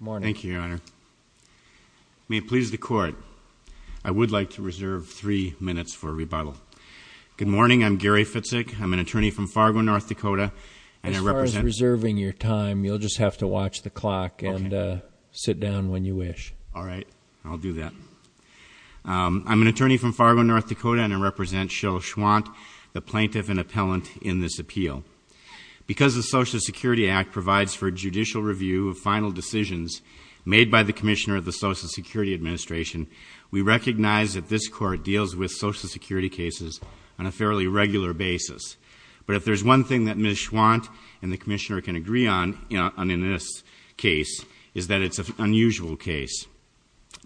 May it please the Court, I would like to reserve three minutes for rebuttal. Good morning, I'm Gary Fitzik, I'm an attorney from Fargo, North Dakota, and I represent As far as reserving your time, you'll just have to watch the clock and sit down when you wish. All right, I'll do that. I'm an attorney from Fargo, North Dakota, and I represent Cheryl Schwandt, the plaintiff and appellant in this appeal. Because the Social Security Act provides for judicial review of final decisions made by the Commissioner of the Social Security Administration, we recognize that this Court deals with Social Security cases on a fairly regular basis. But if there's one thing that Ms. Schwandt and the Commissioner can agree on in this case, it's that it's an unusual case.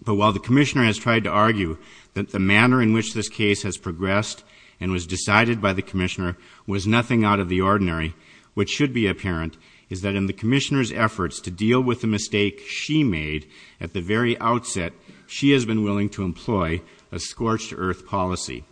But while the Commissioner has tried to argue that the manner in which this case has progressed and was decided by the Commissioner was nothing out of the ordinary, what should be apparent is that in the Commissioner's efforts to deal with the mistake she made at the very outset, she has been willing to employ a scorched earth policy.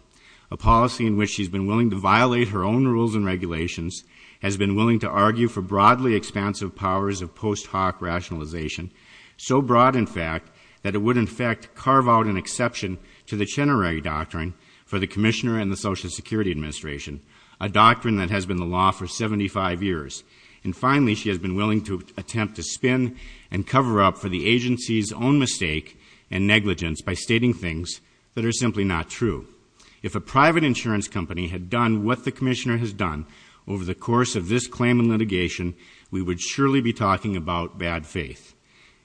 A policy in which she's been willing to violate her own rules and regulations, has been willing to argue for broadly expansive powers of post hoc rationalization, so broad, in fact, that it would, in fact, carve out an exception to the Chenerey Doctrine for the Commissioner and the Social Security Administration, a doctrine that has been the law for 75 years. And finally, she has been willing to attempt to spin and cover up for the agency's own mistake and negligence by stating things that are simply not true. If a private insurance company had done what the Commissioner has done over the course of this claim and litigation, we would surely be talking about bad faith.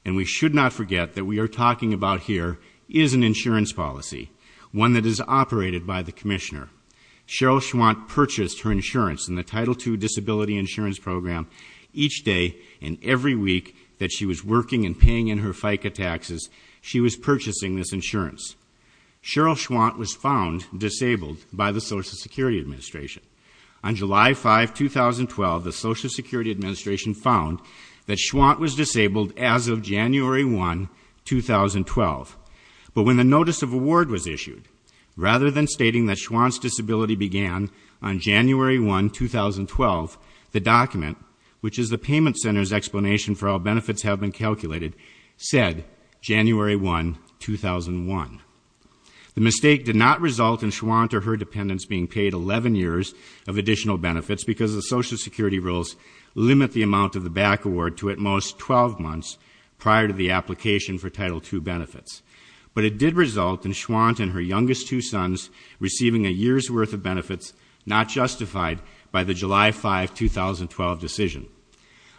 And we should not forget that what we are talking about here is an insurance policy, one that is operated by the Commissioner. Cheryl Schwant purchased her insurance in the Title II Disability Insurance Program each day and every week that she was working and paying in her FICA taxes, she was purchasing this insurance. Cheryl Schwant was found disabled by the Social Security Administration. On July 5, 2012, the Social Security Administration found that Schwant was disabled as of January 1, 2012. But when the notice of award was issued, rather than stating that Schwant's disability began on January 1, 2012, the document, which is the payment center's explanation for how benefits have been calculated, said January 1, 2001. The mistake did not result in Schwant or her dependents being paid 11 years of additional benefits because the Social Security rules limit the amount of the back award to at most 12 months prior to the application for Title II benefits. But it did result in Schwant and her youngest two sons receiving a year's worth of benefits not justified by the July 5, 2012 decision.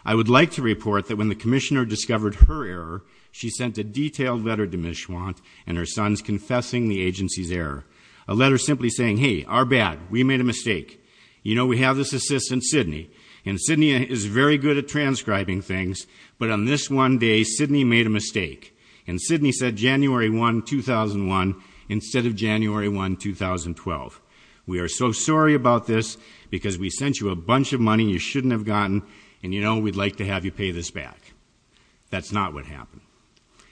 I would like to report that when the Commissioner discovered her error, she sent a detailed letter to Ms. Schwant and her sons confessing the agency's error, a letter simply saying, hey, our bad, we made a mistake. You know, we have this assistant, Sidney, and Sidney is very good at transcribing things, but on this one day, Sidney made a mistake. And Sidney said January 1, 2001 instead of January 1, 2012. We are so sorry about this because we sent you a bunch of money you shouldn't have gotten, and, you know, we'd like to have you pay this back. That's not what happened.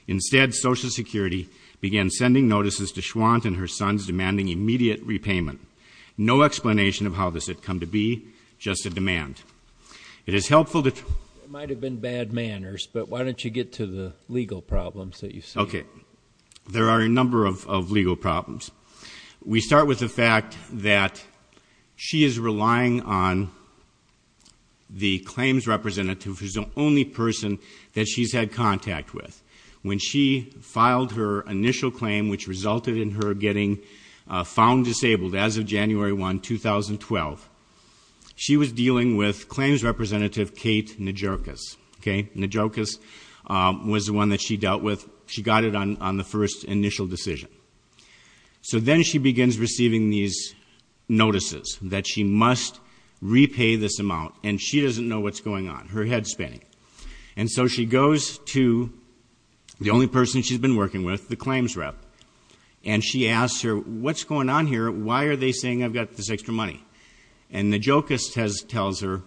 Instead, Social Security began sending notices to Schwant and her sons demanding immediate repayment. No explanation of how this had come to be, just a demand. It is helpful to... It might have been bad manners, but why don't you get to the legal problems that you see. Okay. There are a number of legal problems. We start with the fact that she is relying on the claims representative who is the only person that she's had contact with. When she filed her initial claim, which resulted in her getting found disabled as of January 1, 2012, she was dealing with claims representative Kate Najokas. Okay. Najokas was the one that she dealt with. She got it on the first initial decision. So then she begins receiving these notices that she must repay this amount, and she doesn't know what's going on, her head spinning. And so she goes to the only person she's been working with, the claims rep, and she asks her, What's going on here? Why are they saying I've got this extra money? And Najokas tells her,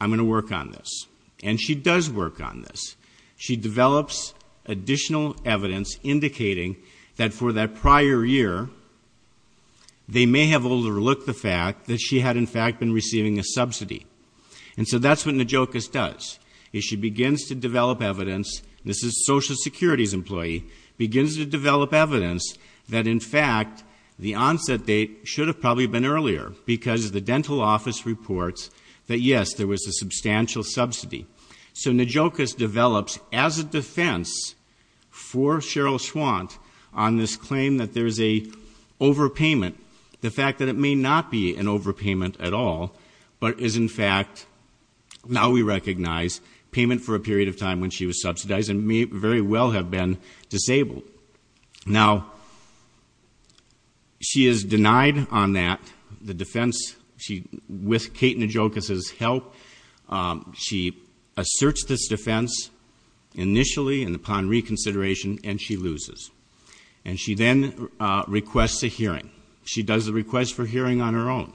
I'm going to work on this. And she does work on this. She develops additional evidence indicating that for that prior year, they may have overlooked the fact that she had, in fact, been receiving a subsidy. And so that's what Najokas does, is she begins to develop evidence. This is Social Security's employee. Begins to develop evidence that, in fact, the onset date should have probably been earlier because the dental office reports that, yes, there was a substantial subsidy. So Najokas develops as a defense for Cheryl Schwant on this claim that there is an overpayment, the fact that it may not be an overpayment at all, but is, in fact, now we recognize payment for a period of time when she was subsidized and may very well have been disabled. Now, she is denied on that, the defense. With Kate Najokas' help, she asserts this defense initially and upon reconsideration, and she loses. And she then requests a hearing. She does the request for hearing on her own.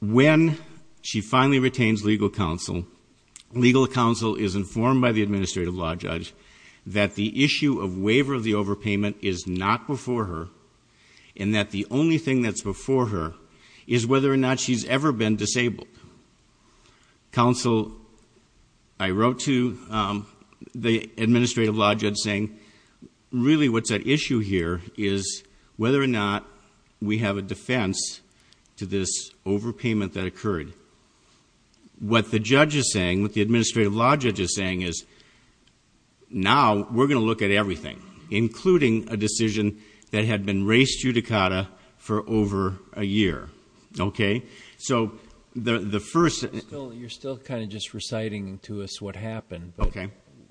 When she finally retains legal counsel, legal counsel is informed by the administrative law judge that the issue of waiver of the overpayment is not before her and that the only thing that's before her is whether or not she's ever been disabled. Counsel, I wrote to the administrative law judge saying, really what's at issue here is whether or not we have a defense to this overpayment that occurred. What the judge is saying, what the administrative law judge is saying is, now we're going to look at everything, including a decision that had been raised judicata for over a year. Okay? So the first- You're still kind of just reciting to us what happened. Okay.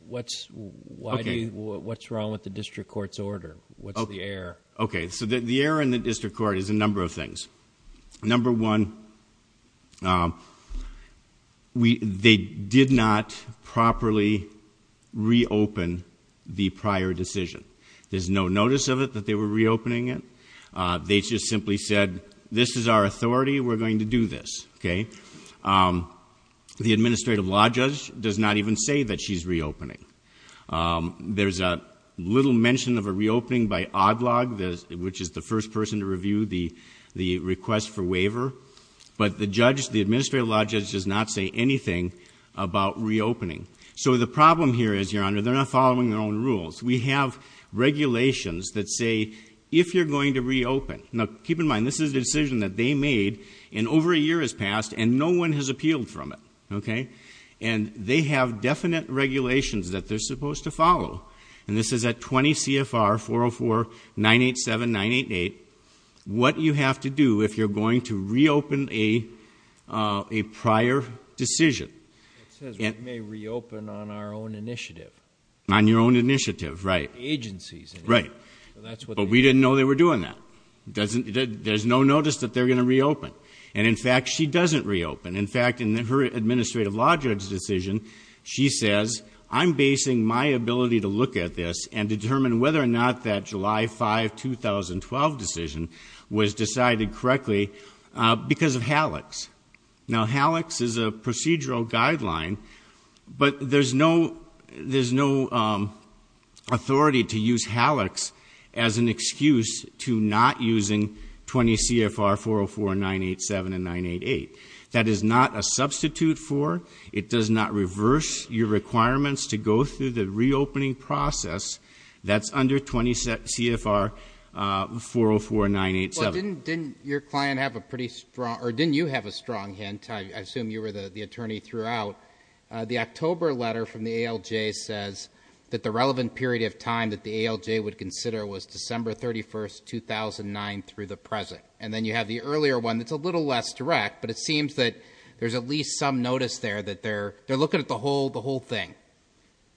What's wrong with the district court's order? What's the error? Okay, so the error in the district court is a number of things. Number one, they did not properly reopen the prior decision. There's no notice of it that they were reopening it. They just simply said, this is our authority, we're going to do this. Okay? The administrative law judge does not even say that she's reopening. There's a little mention of a reopening by ODLOG, which is the first person to review the request for waiver. But the judge, the administrative law judge, does not say anything about reopening. So the problem here is, Your Honor, they're not following their own rules. We have regulations that say, if you're going to reopen. Now, keep in mind, this is a decision that they made, and over a year has passed, and no one has appealed from it. Okay? And they have definite regulations that they're supposed to follow. And this is at 20 CFR 404-987-988, what you have to do if you're going to reopen a prior decision. It says we may reopen on our own initiative. On your own initiative, right. Agencies. Right. But we didn't know they were doing that. There's no notice that they're going to reopen. And, in fact, she doesn't reopen. In fact, in her administrative law judge decision, she says, I'm basing my ability to look at this and determine whether or not that July 5, 2012 decision was decided correctly because of HALACS. Now, HALACS is a procedural guideline, but there's no authority to use HALACS as an excuse to not using 20 CFR 404-987-988. That is not a substitute for, it does not reverse your requirements to go through the reopening process that's under 20 CFR 404-987. Well, didn't your client have a pretty strong, or didn't you have a strong hint? I assume you were the attorney throughout. The October letter from the ALJ says that the relevant period of time that the ALJ would consider was December 31, 2009 through the present. And then you have the earlier one that's a little less direct, but it seems that there's at least some notice there that they're looking at the whole thing.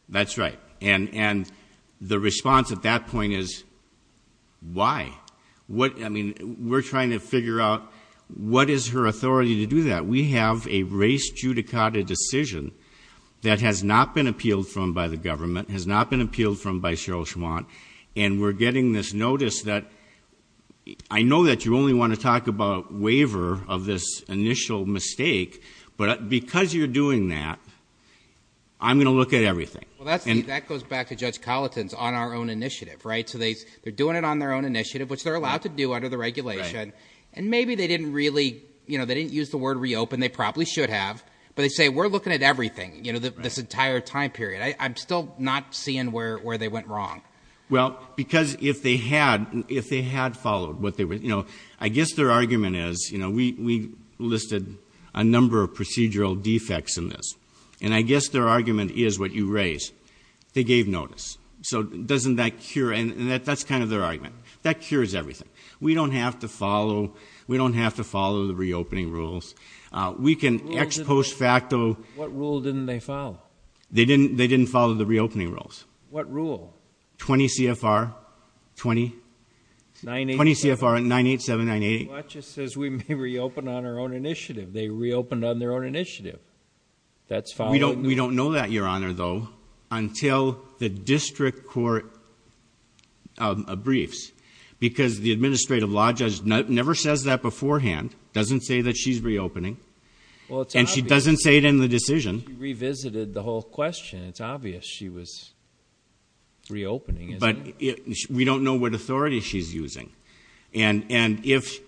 That's right. And the response at that point is, why? I mean, we're trying to figure out what is her authority to do that. We have a race judicata decision that has not been appealed from by the government, has not been appealed from by Cheryl Schwant, and we're getting this notice that I know that you only want to talk about waiver of this initial mistake, but because you're doing that, I'm going to look at everything. Well, that goes back to Judge Colleton's on our own initiative, right? So they're doing it on their own initiative, which they're allowed to do under the regulation. And maybe they didn't really, you know, they didn't use the word reopen. They probably should have. But they say, we're looking at everything, you know, this entire time period. I'm still not seeing where they went wrong. Well, because if they had followed what they were, you know, I guess their argument is, you know, we listed a number of procedural defects in this, and I guess their argument is what you raised. They gave notice. So doesn't that cure? And that's kind of their argument. That cures everything. We don't have to follow the reopening rules. We can ex post facto. What rule didn't they follow? They didn't follow the reopening rules. What rule? 20 CFR, 20 CFR 98798. Well, that just says we may reopen on our own initiative. They reopened on their own initiative. We don't know that, Your Honor, though, until the district court briefs. Because the administrative law judge never says that beforehand, doesn't say that she's reopening. And she doesn't say it in the decision. She revisited the whole question. It's obvious she was reopening. But we don't know what authority she's using. And if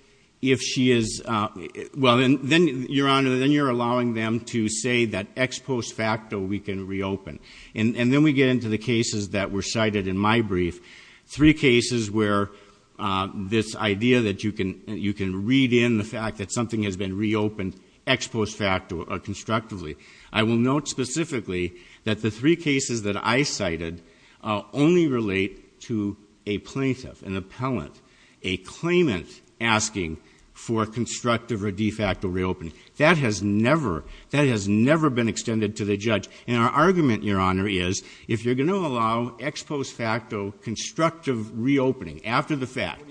she is, well, then, Your Honor, then you're allowing them to say that ex post facto we can reopen. And then we get into the cases that were cited in my brief, three cases where this idea that you can read in the fact that something has been reopened ex post facto constructively. I will note specifically that the three cases that I cited only relate to a plaintiff, an appellant, a claimant asking for constructive or de facto reopening. That has never been extended to the judge. And our argument, Your Honor, is if you're going to allow ex post facto constructive reopening after the fact.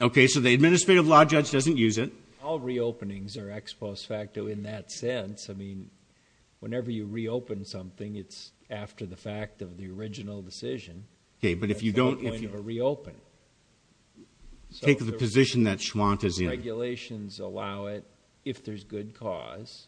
Okay, so the administrative law judge doesn't use it. All reopenings are ex post facto in that sense. I mean, whenever you reopen something, it's after the fact of the original decision. Okay, but if you don't. At the point of a reopen. Take the position that Schwant is in. Regulations allow it if there's good cause.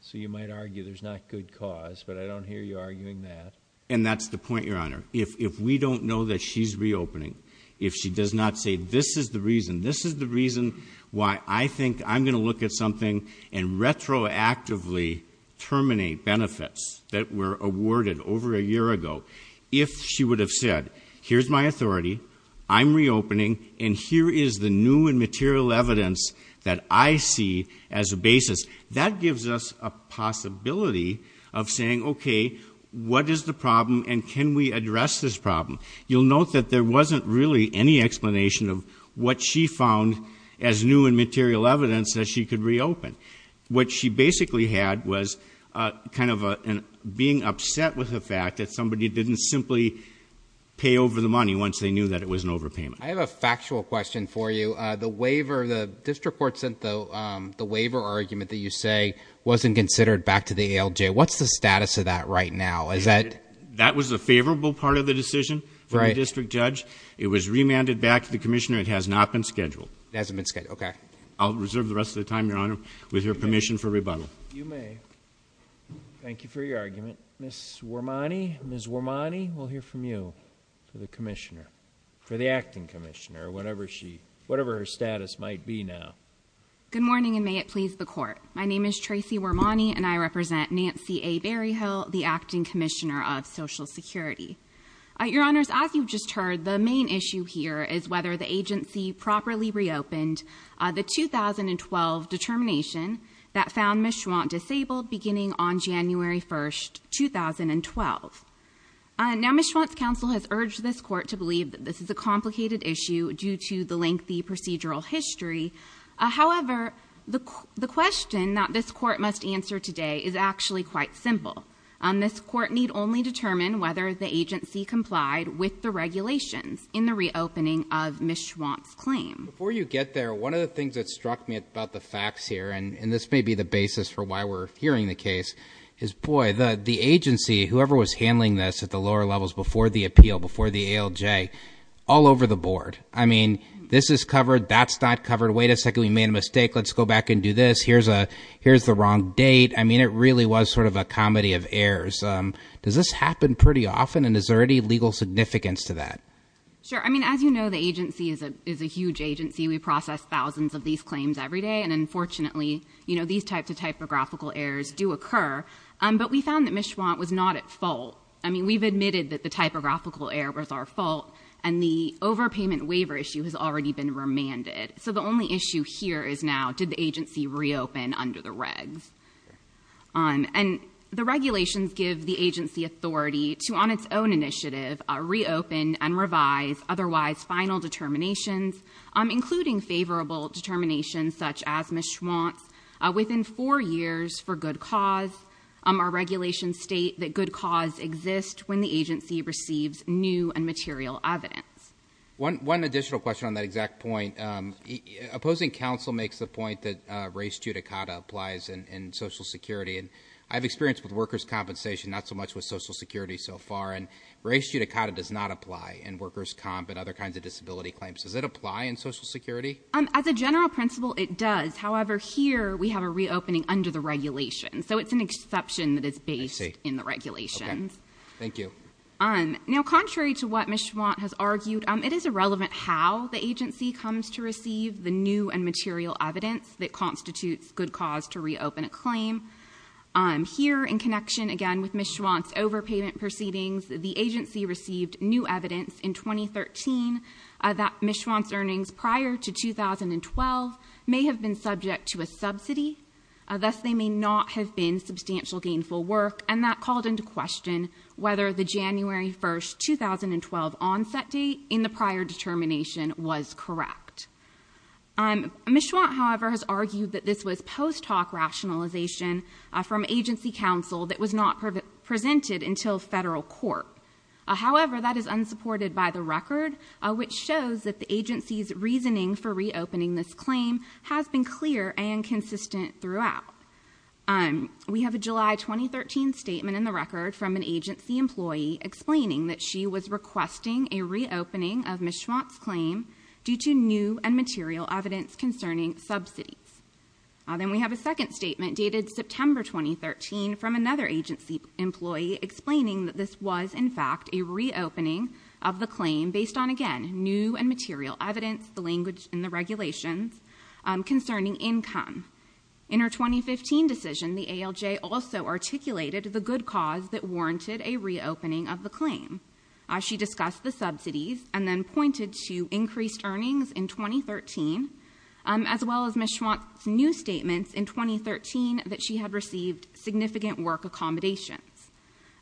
So you might argue there's not good cause, but I don't hear you arguing that. And that's the point, Your Honor. If we don't know that she's reopening, if she does not say this is the reason, this is the reason why I think I'm going to look at something and retroactively terminate benefits that were awarded over a year ago. If she would have said, here's my authority, I'm reopening, and here is the new and material evidence that I see as a basis. That gives us a possibility of saying, okay, what is the problem and can we address this problem? You'll note that there wasn't really any explanation of what she found as new and material evidence that she could reopen. What she basically had was kind of being upset with the fact that somebody didn't simply pay over the money once they knew that it was an overpayment. I have a factual question for you. The waiver, the district court sent the waiver argument that you say wasn't considered back to the ALJ. What's the status of that right now? Is that- That was a favorable part of the decision for the district judge. It was remanded back to the commissioner. It has not been scheduled. It hasn't been scheduled, okay. I'll reserve the rest of the time, Your Honor, with your permission for rebuttal. You may. Thank you for your argument. Ms. Wormani, Ms. Wormani, we'll hear from you for the acting commissioner, whatever her status might be now. Good morning, and may it please the court. My name is Tracy Wormani, and I represent Nancy A. Berryhill, the acting commissioner of Social Security. Your Honors, as you've just heard, the main issue here is whether the agency properly reopened the 2012 determination that found Ms. Schwant disabled beginning on January 1st, 2012. Now, Ms. Schwant's counsel has urged this court to believe that this is a complicated issue due to the lengthy procedural history. However, the question that this court must answer today is actually quite simple. This court need only determine whether the agency complied with the regulations in the reopening of Ms. Schwant's claim. Before you get there, one of the things that struck me about the facts here, and this may be the basis for why we're hearing the case, is, boy, the agency, whoever was handling this at the lower levels before the appeal, before the ALJ, all over the board. I mean, this is covered, that's not covered. Wait a second, we made a mistake. Let's go back and do this. Here's the wrong date. I mean, it really was sort of a comedy of errors. Does this happen pretty often, and is there any legal significance to that? Sure. I mean, as you know, the agency is a huge agency. We process thousands of these claims every day, and unfortunately, these types of typographical errors do occur. But we found that Ms. Schwant was not at fault. I mean, we've admitted that the typographical error was our fault, and the overpayment waiver issue has already been remanded. So the only issue here is now, did the agency reopen under the regs? The regulations give the agency authority to, on its own initiative, reopen and revise otherwise final determinations, including favorable determinations such as Ms. Schwant's, within four years for good cause. Our regulations state that good cause exists when the agency receives new and material evidence. One additional question on that exact point. Opposing counsel makes the point that res judicata applies in Social Security, and I have experience with workers' compensation, not so much with Social Security so far, and res judicata does not apply in workers' comp and other kinds of disability claims. Does it apply in Social Security? As a general principle, it does. However, here we have a reopening under the regulations. So it's an exception that is based in the regulations. Thank you. Now, contrary to what Ms. Schwant has argued, it is irrelevant how the agency comes to receive the new and material evidence that constitutes good cause to reopen a claim. Here, in connection, again, with Ms. Schwant's overpayment proceedings, the agency received new evidence in 2013 that Ms. Schwant's earnings prior to 2012 may have been subject to a subsidy. Thus, they may not have been substantial gainful work, and that called into question whether the January 1, 2012 onset date in the prior determination was correct. Ms. Schwant, however, has argued that this was post hoc rationalization from agency counsel that was not presented until federal court. However, that is unsupported by the record, which shows that the agency's reasoning for reopening this claim has been clear and consistent throughout. We have a July 2013 statement in the record from an agency employee explaining that she was requesting a reopening of Ms. Schwant's claim due to new and material evidence concerning subsidies. Then we have a second statement dated September 2013 from another agency employee explaining that this was, in fact, a reopening of the claim based on, again, new and material evidence, the language in the regulations concerning income. In her 2015 decision, the ALJ also articulated the good cause that warranted a reopening of the claim. She discussed the subsidies and then pointed to increased earnings in 2013, as well as Ms. Schwant's new statements in 2013 that she had received significant work accommodations.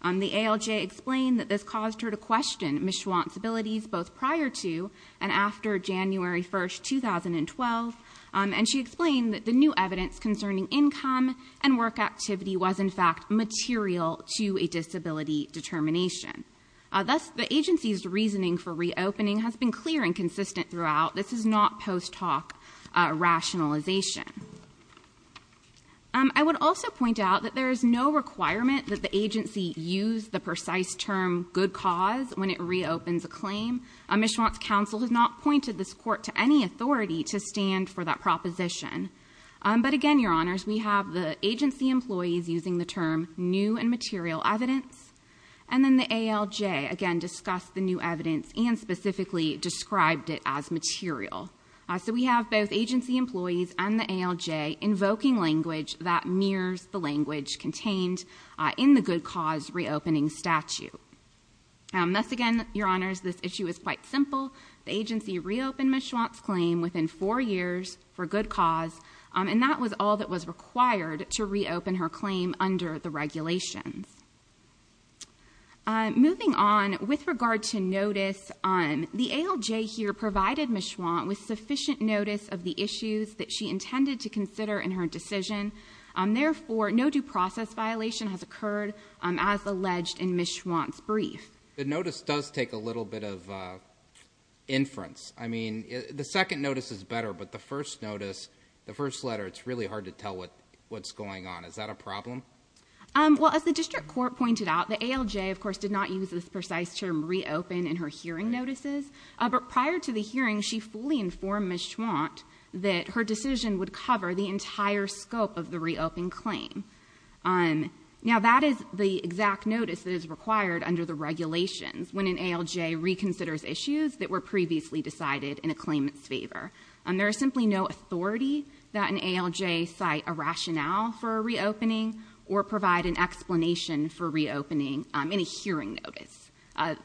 The ALJ explained that this caused her to question Ms. Schwant's abilities both prior to and after January 1, 2012, and she explained that the new evidence concerning income and work activity was, in fact, material to a disability determination. Thus, the agency's reasoning for reopening has been clear and consistent throughout. This is not post-talk rationalization. I would also point out that there is no requirement that the agency use the precise term good cause when it reopens a claim. Ms. Schwant's counsel has not pointed this court to any authority to stand for that proposition. But again, Your Honors, we have the agency employees using the term new and material evidence, and then the ALJ, again, discussed the new evidence and specifically described it as material. So we have both agency employees and the ALJ invoking language that mirrors the language contained in the good cause reopening statute. Thus again, Your Honors, this issue is quite simple. The agency reopened Ms. Schwant's claim within four years for good cause, and that was all that was required to reopen her claim under the regulations. Moving on, with regard to notice, the ALJ here provided Ms. Schwant with sufficient notice of the issues that she intended to consider in her decision. Therefore, no due process violation has occurred, as alleged in Ms. Schwant's brief. The notice does take a little bit of inference. I mean, the second notice is better, but the first notice, the first letter, it's really hard to tell what's going on. Is that a problem? Well, as the district court pointed out, the ALJ, of course, did not use this precise term reopen in her hearing notices. But prior to the hearing, she fully informed Ms. Schwant that her decision would cover the entire scope of the reopened claim. Now, that is the exact notice that is required under the regulations when an ALJ reconsiders issues that were previously decided in a claimant's favor. There is simply no authority that an ALJ cite a rationale for a reopening or provide an explanation for reopening in a hearing notice.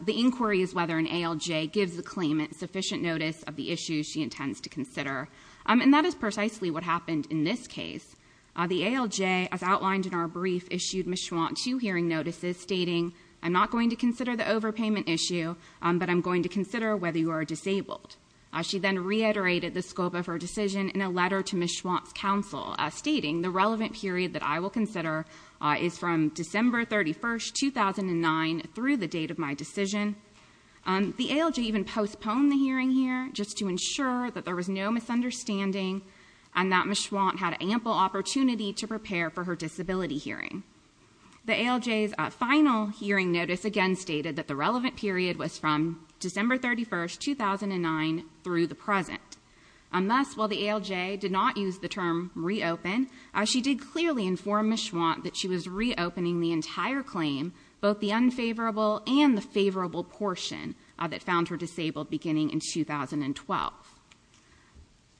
The inquiry is whether an ALJ gives the claimant sufficient notice of the issues she intends to consider. And that is precisely what happened in this case. The ALJ, as outlined in our brief, issued Ms. Schwant two hearing notices stating, I'm not going to consider the overpayment issue, but I'm going to consider whether you are disabled. She then reiterated the scope of her decision in a letter to Ms. Schwant's counsel, stating, The relevant period that I will consider is from December 31, 2009 through the date of my decision. The ALJ even postponed the hearing here just to ensure that there was no misunderstanding and that Ms. Schwant had ample opportunity to prepare for her disability hearing. The ALJ's final hearing notice again stated that the relevant period was from December 31, 2009 through the present. And thus, while the ALJ did not use the term reopen, she did clearly inform Ms. Schwant that she was reopening the entire claim, both the unfavorable and the favorable portion that found her disabled beginning in 2012.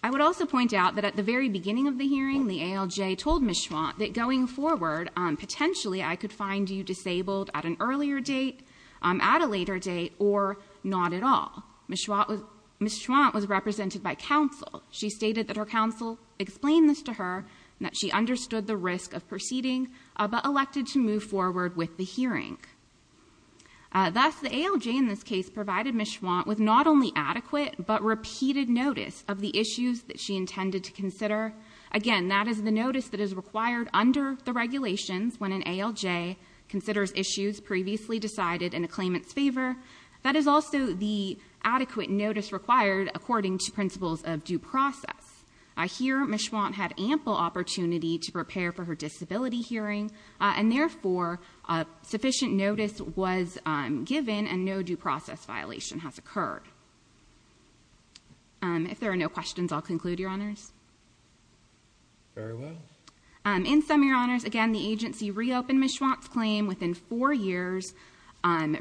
I would also point out that at the very beginning of the hearing, the ALJ told Ms. Schwant that going forward, potentially, I could find you disabled at an earlier date, at a later date, or not at all. Ms. Schwant was represented by counsel. She stated that her counsel explained this to her and that she understood the risk of proceeding, but elected to move forward with the hearing. Thus, the ALJ in this case provided Ms. Schwant with not only adequate, but repeated notice of the issues that she intended to consider. Again, that is the notice that is required under the regulations when an ALJ considers issues previously decided in a claimant's favor. That is also the adequate notice required according to principles of due process. Here, Ms. Schwant had ample opportunity to prepare for her disability hearing, and therefore, sufficient notice was given and no due process violation has occurred. If there are no questions, I'll conclude, Your Honors. Very well. In sum, Your Honors, again, the agency reopened Ms. Schwant's claim within four years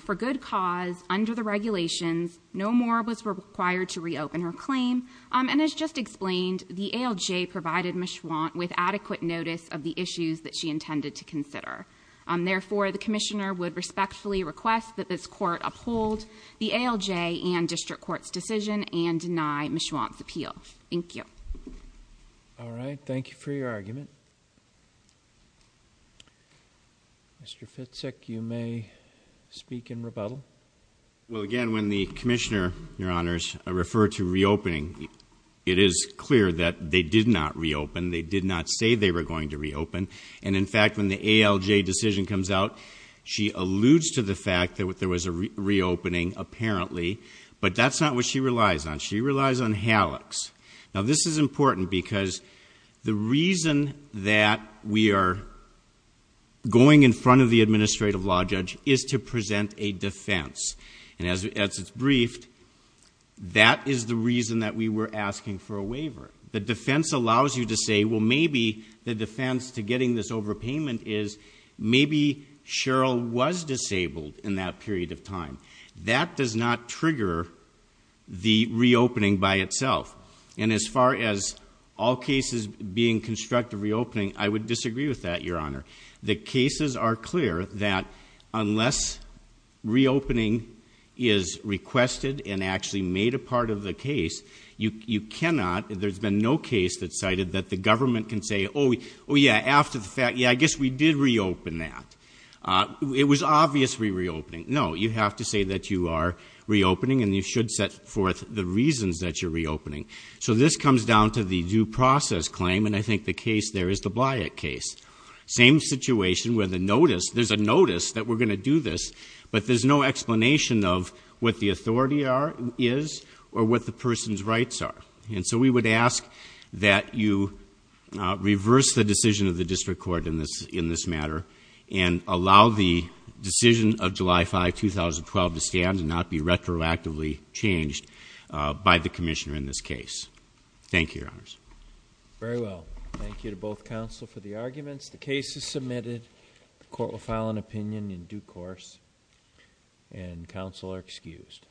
for good cause under the regulations. No more was required to reopen her claim. And as just explained, the ALJ provided Ms. Schwant with adequate notice of the issues that she intended to consider. Therefore, the commissioner would respectfully request that this court uphold the ALJ and district court's decision and deny Ms. Schwant's appeal. All right. Thank you for your argument. Mr. Fitzsick, you may speak in rebuttal. Well, again, when the commissioner, Your Honors, referred to reopening, it is clear that they did not reopen. They did not say they were going to reopen. And, in fact, when the ALJ decision comes out, she alludes to the fact that there was a reopening, apparently, but that's not what she relies on. She relies on hallux. Now, this is important because the reason that we are going in front of the administrative law judge is to present a defense. And as it's briefed, that is the reason that we were asking for a waiver. The defense allows you to say, well, maybe the defense to getting this overpayment is, that does not trigger the reopening by itself. And as far as all cases being constructed reopening, I would disagree with that, Your Honor. The cases are clear that unless reopening is requested and actually made a part of the case, you cannot, there's been no case that cited that the government can say, oh, yeah, after the fact, yeah, I guess we did reopen that. It was obviously reopening. No, you have to say that you are reopening, and you should set forth the reasons that you're reopening. So this comes down to the due process claim, and I think the case there is the Blight case. Same situation where the notice, there's a notice that we're going to do this, but there's no explanation of what the authority is or what the person's rights are. And so we would ask that you reverse the decision of the district court in this matter and allow the decision of July 5, 2012 to stand and not be retroactively changed by the commissioner in this case. Thank you, Your Honors. Very well. Thank you to both counsel for the arguments. The case is submitted. The court will file an opinion in due course, and counsel are excused.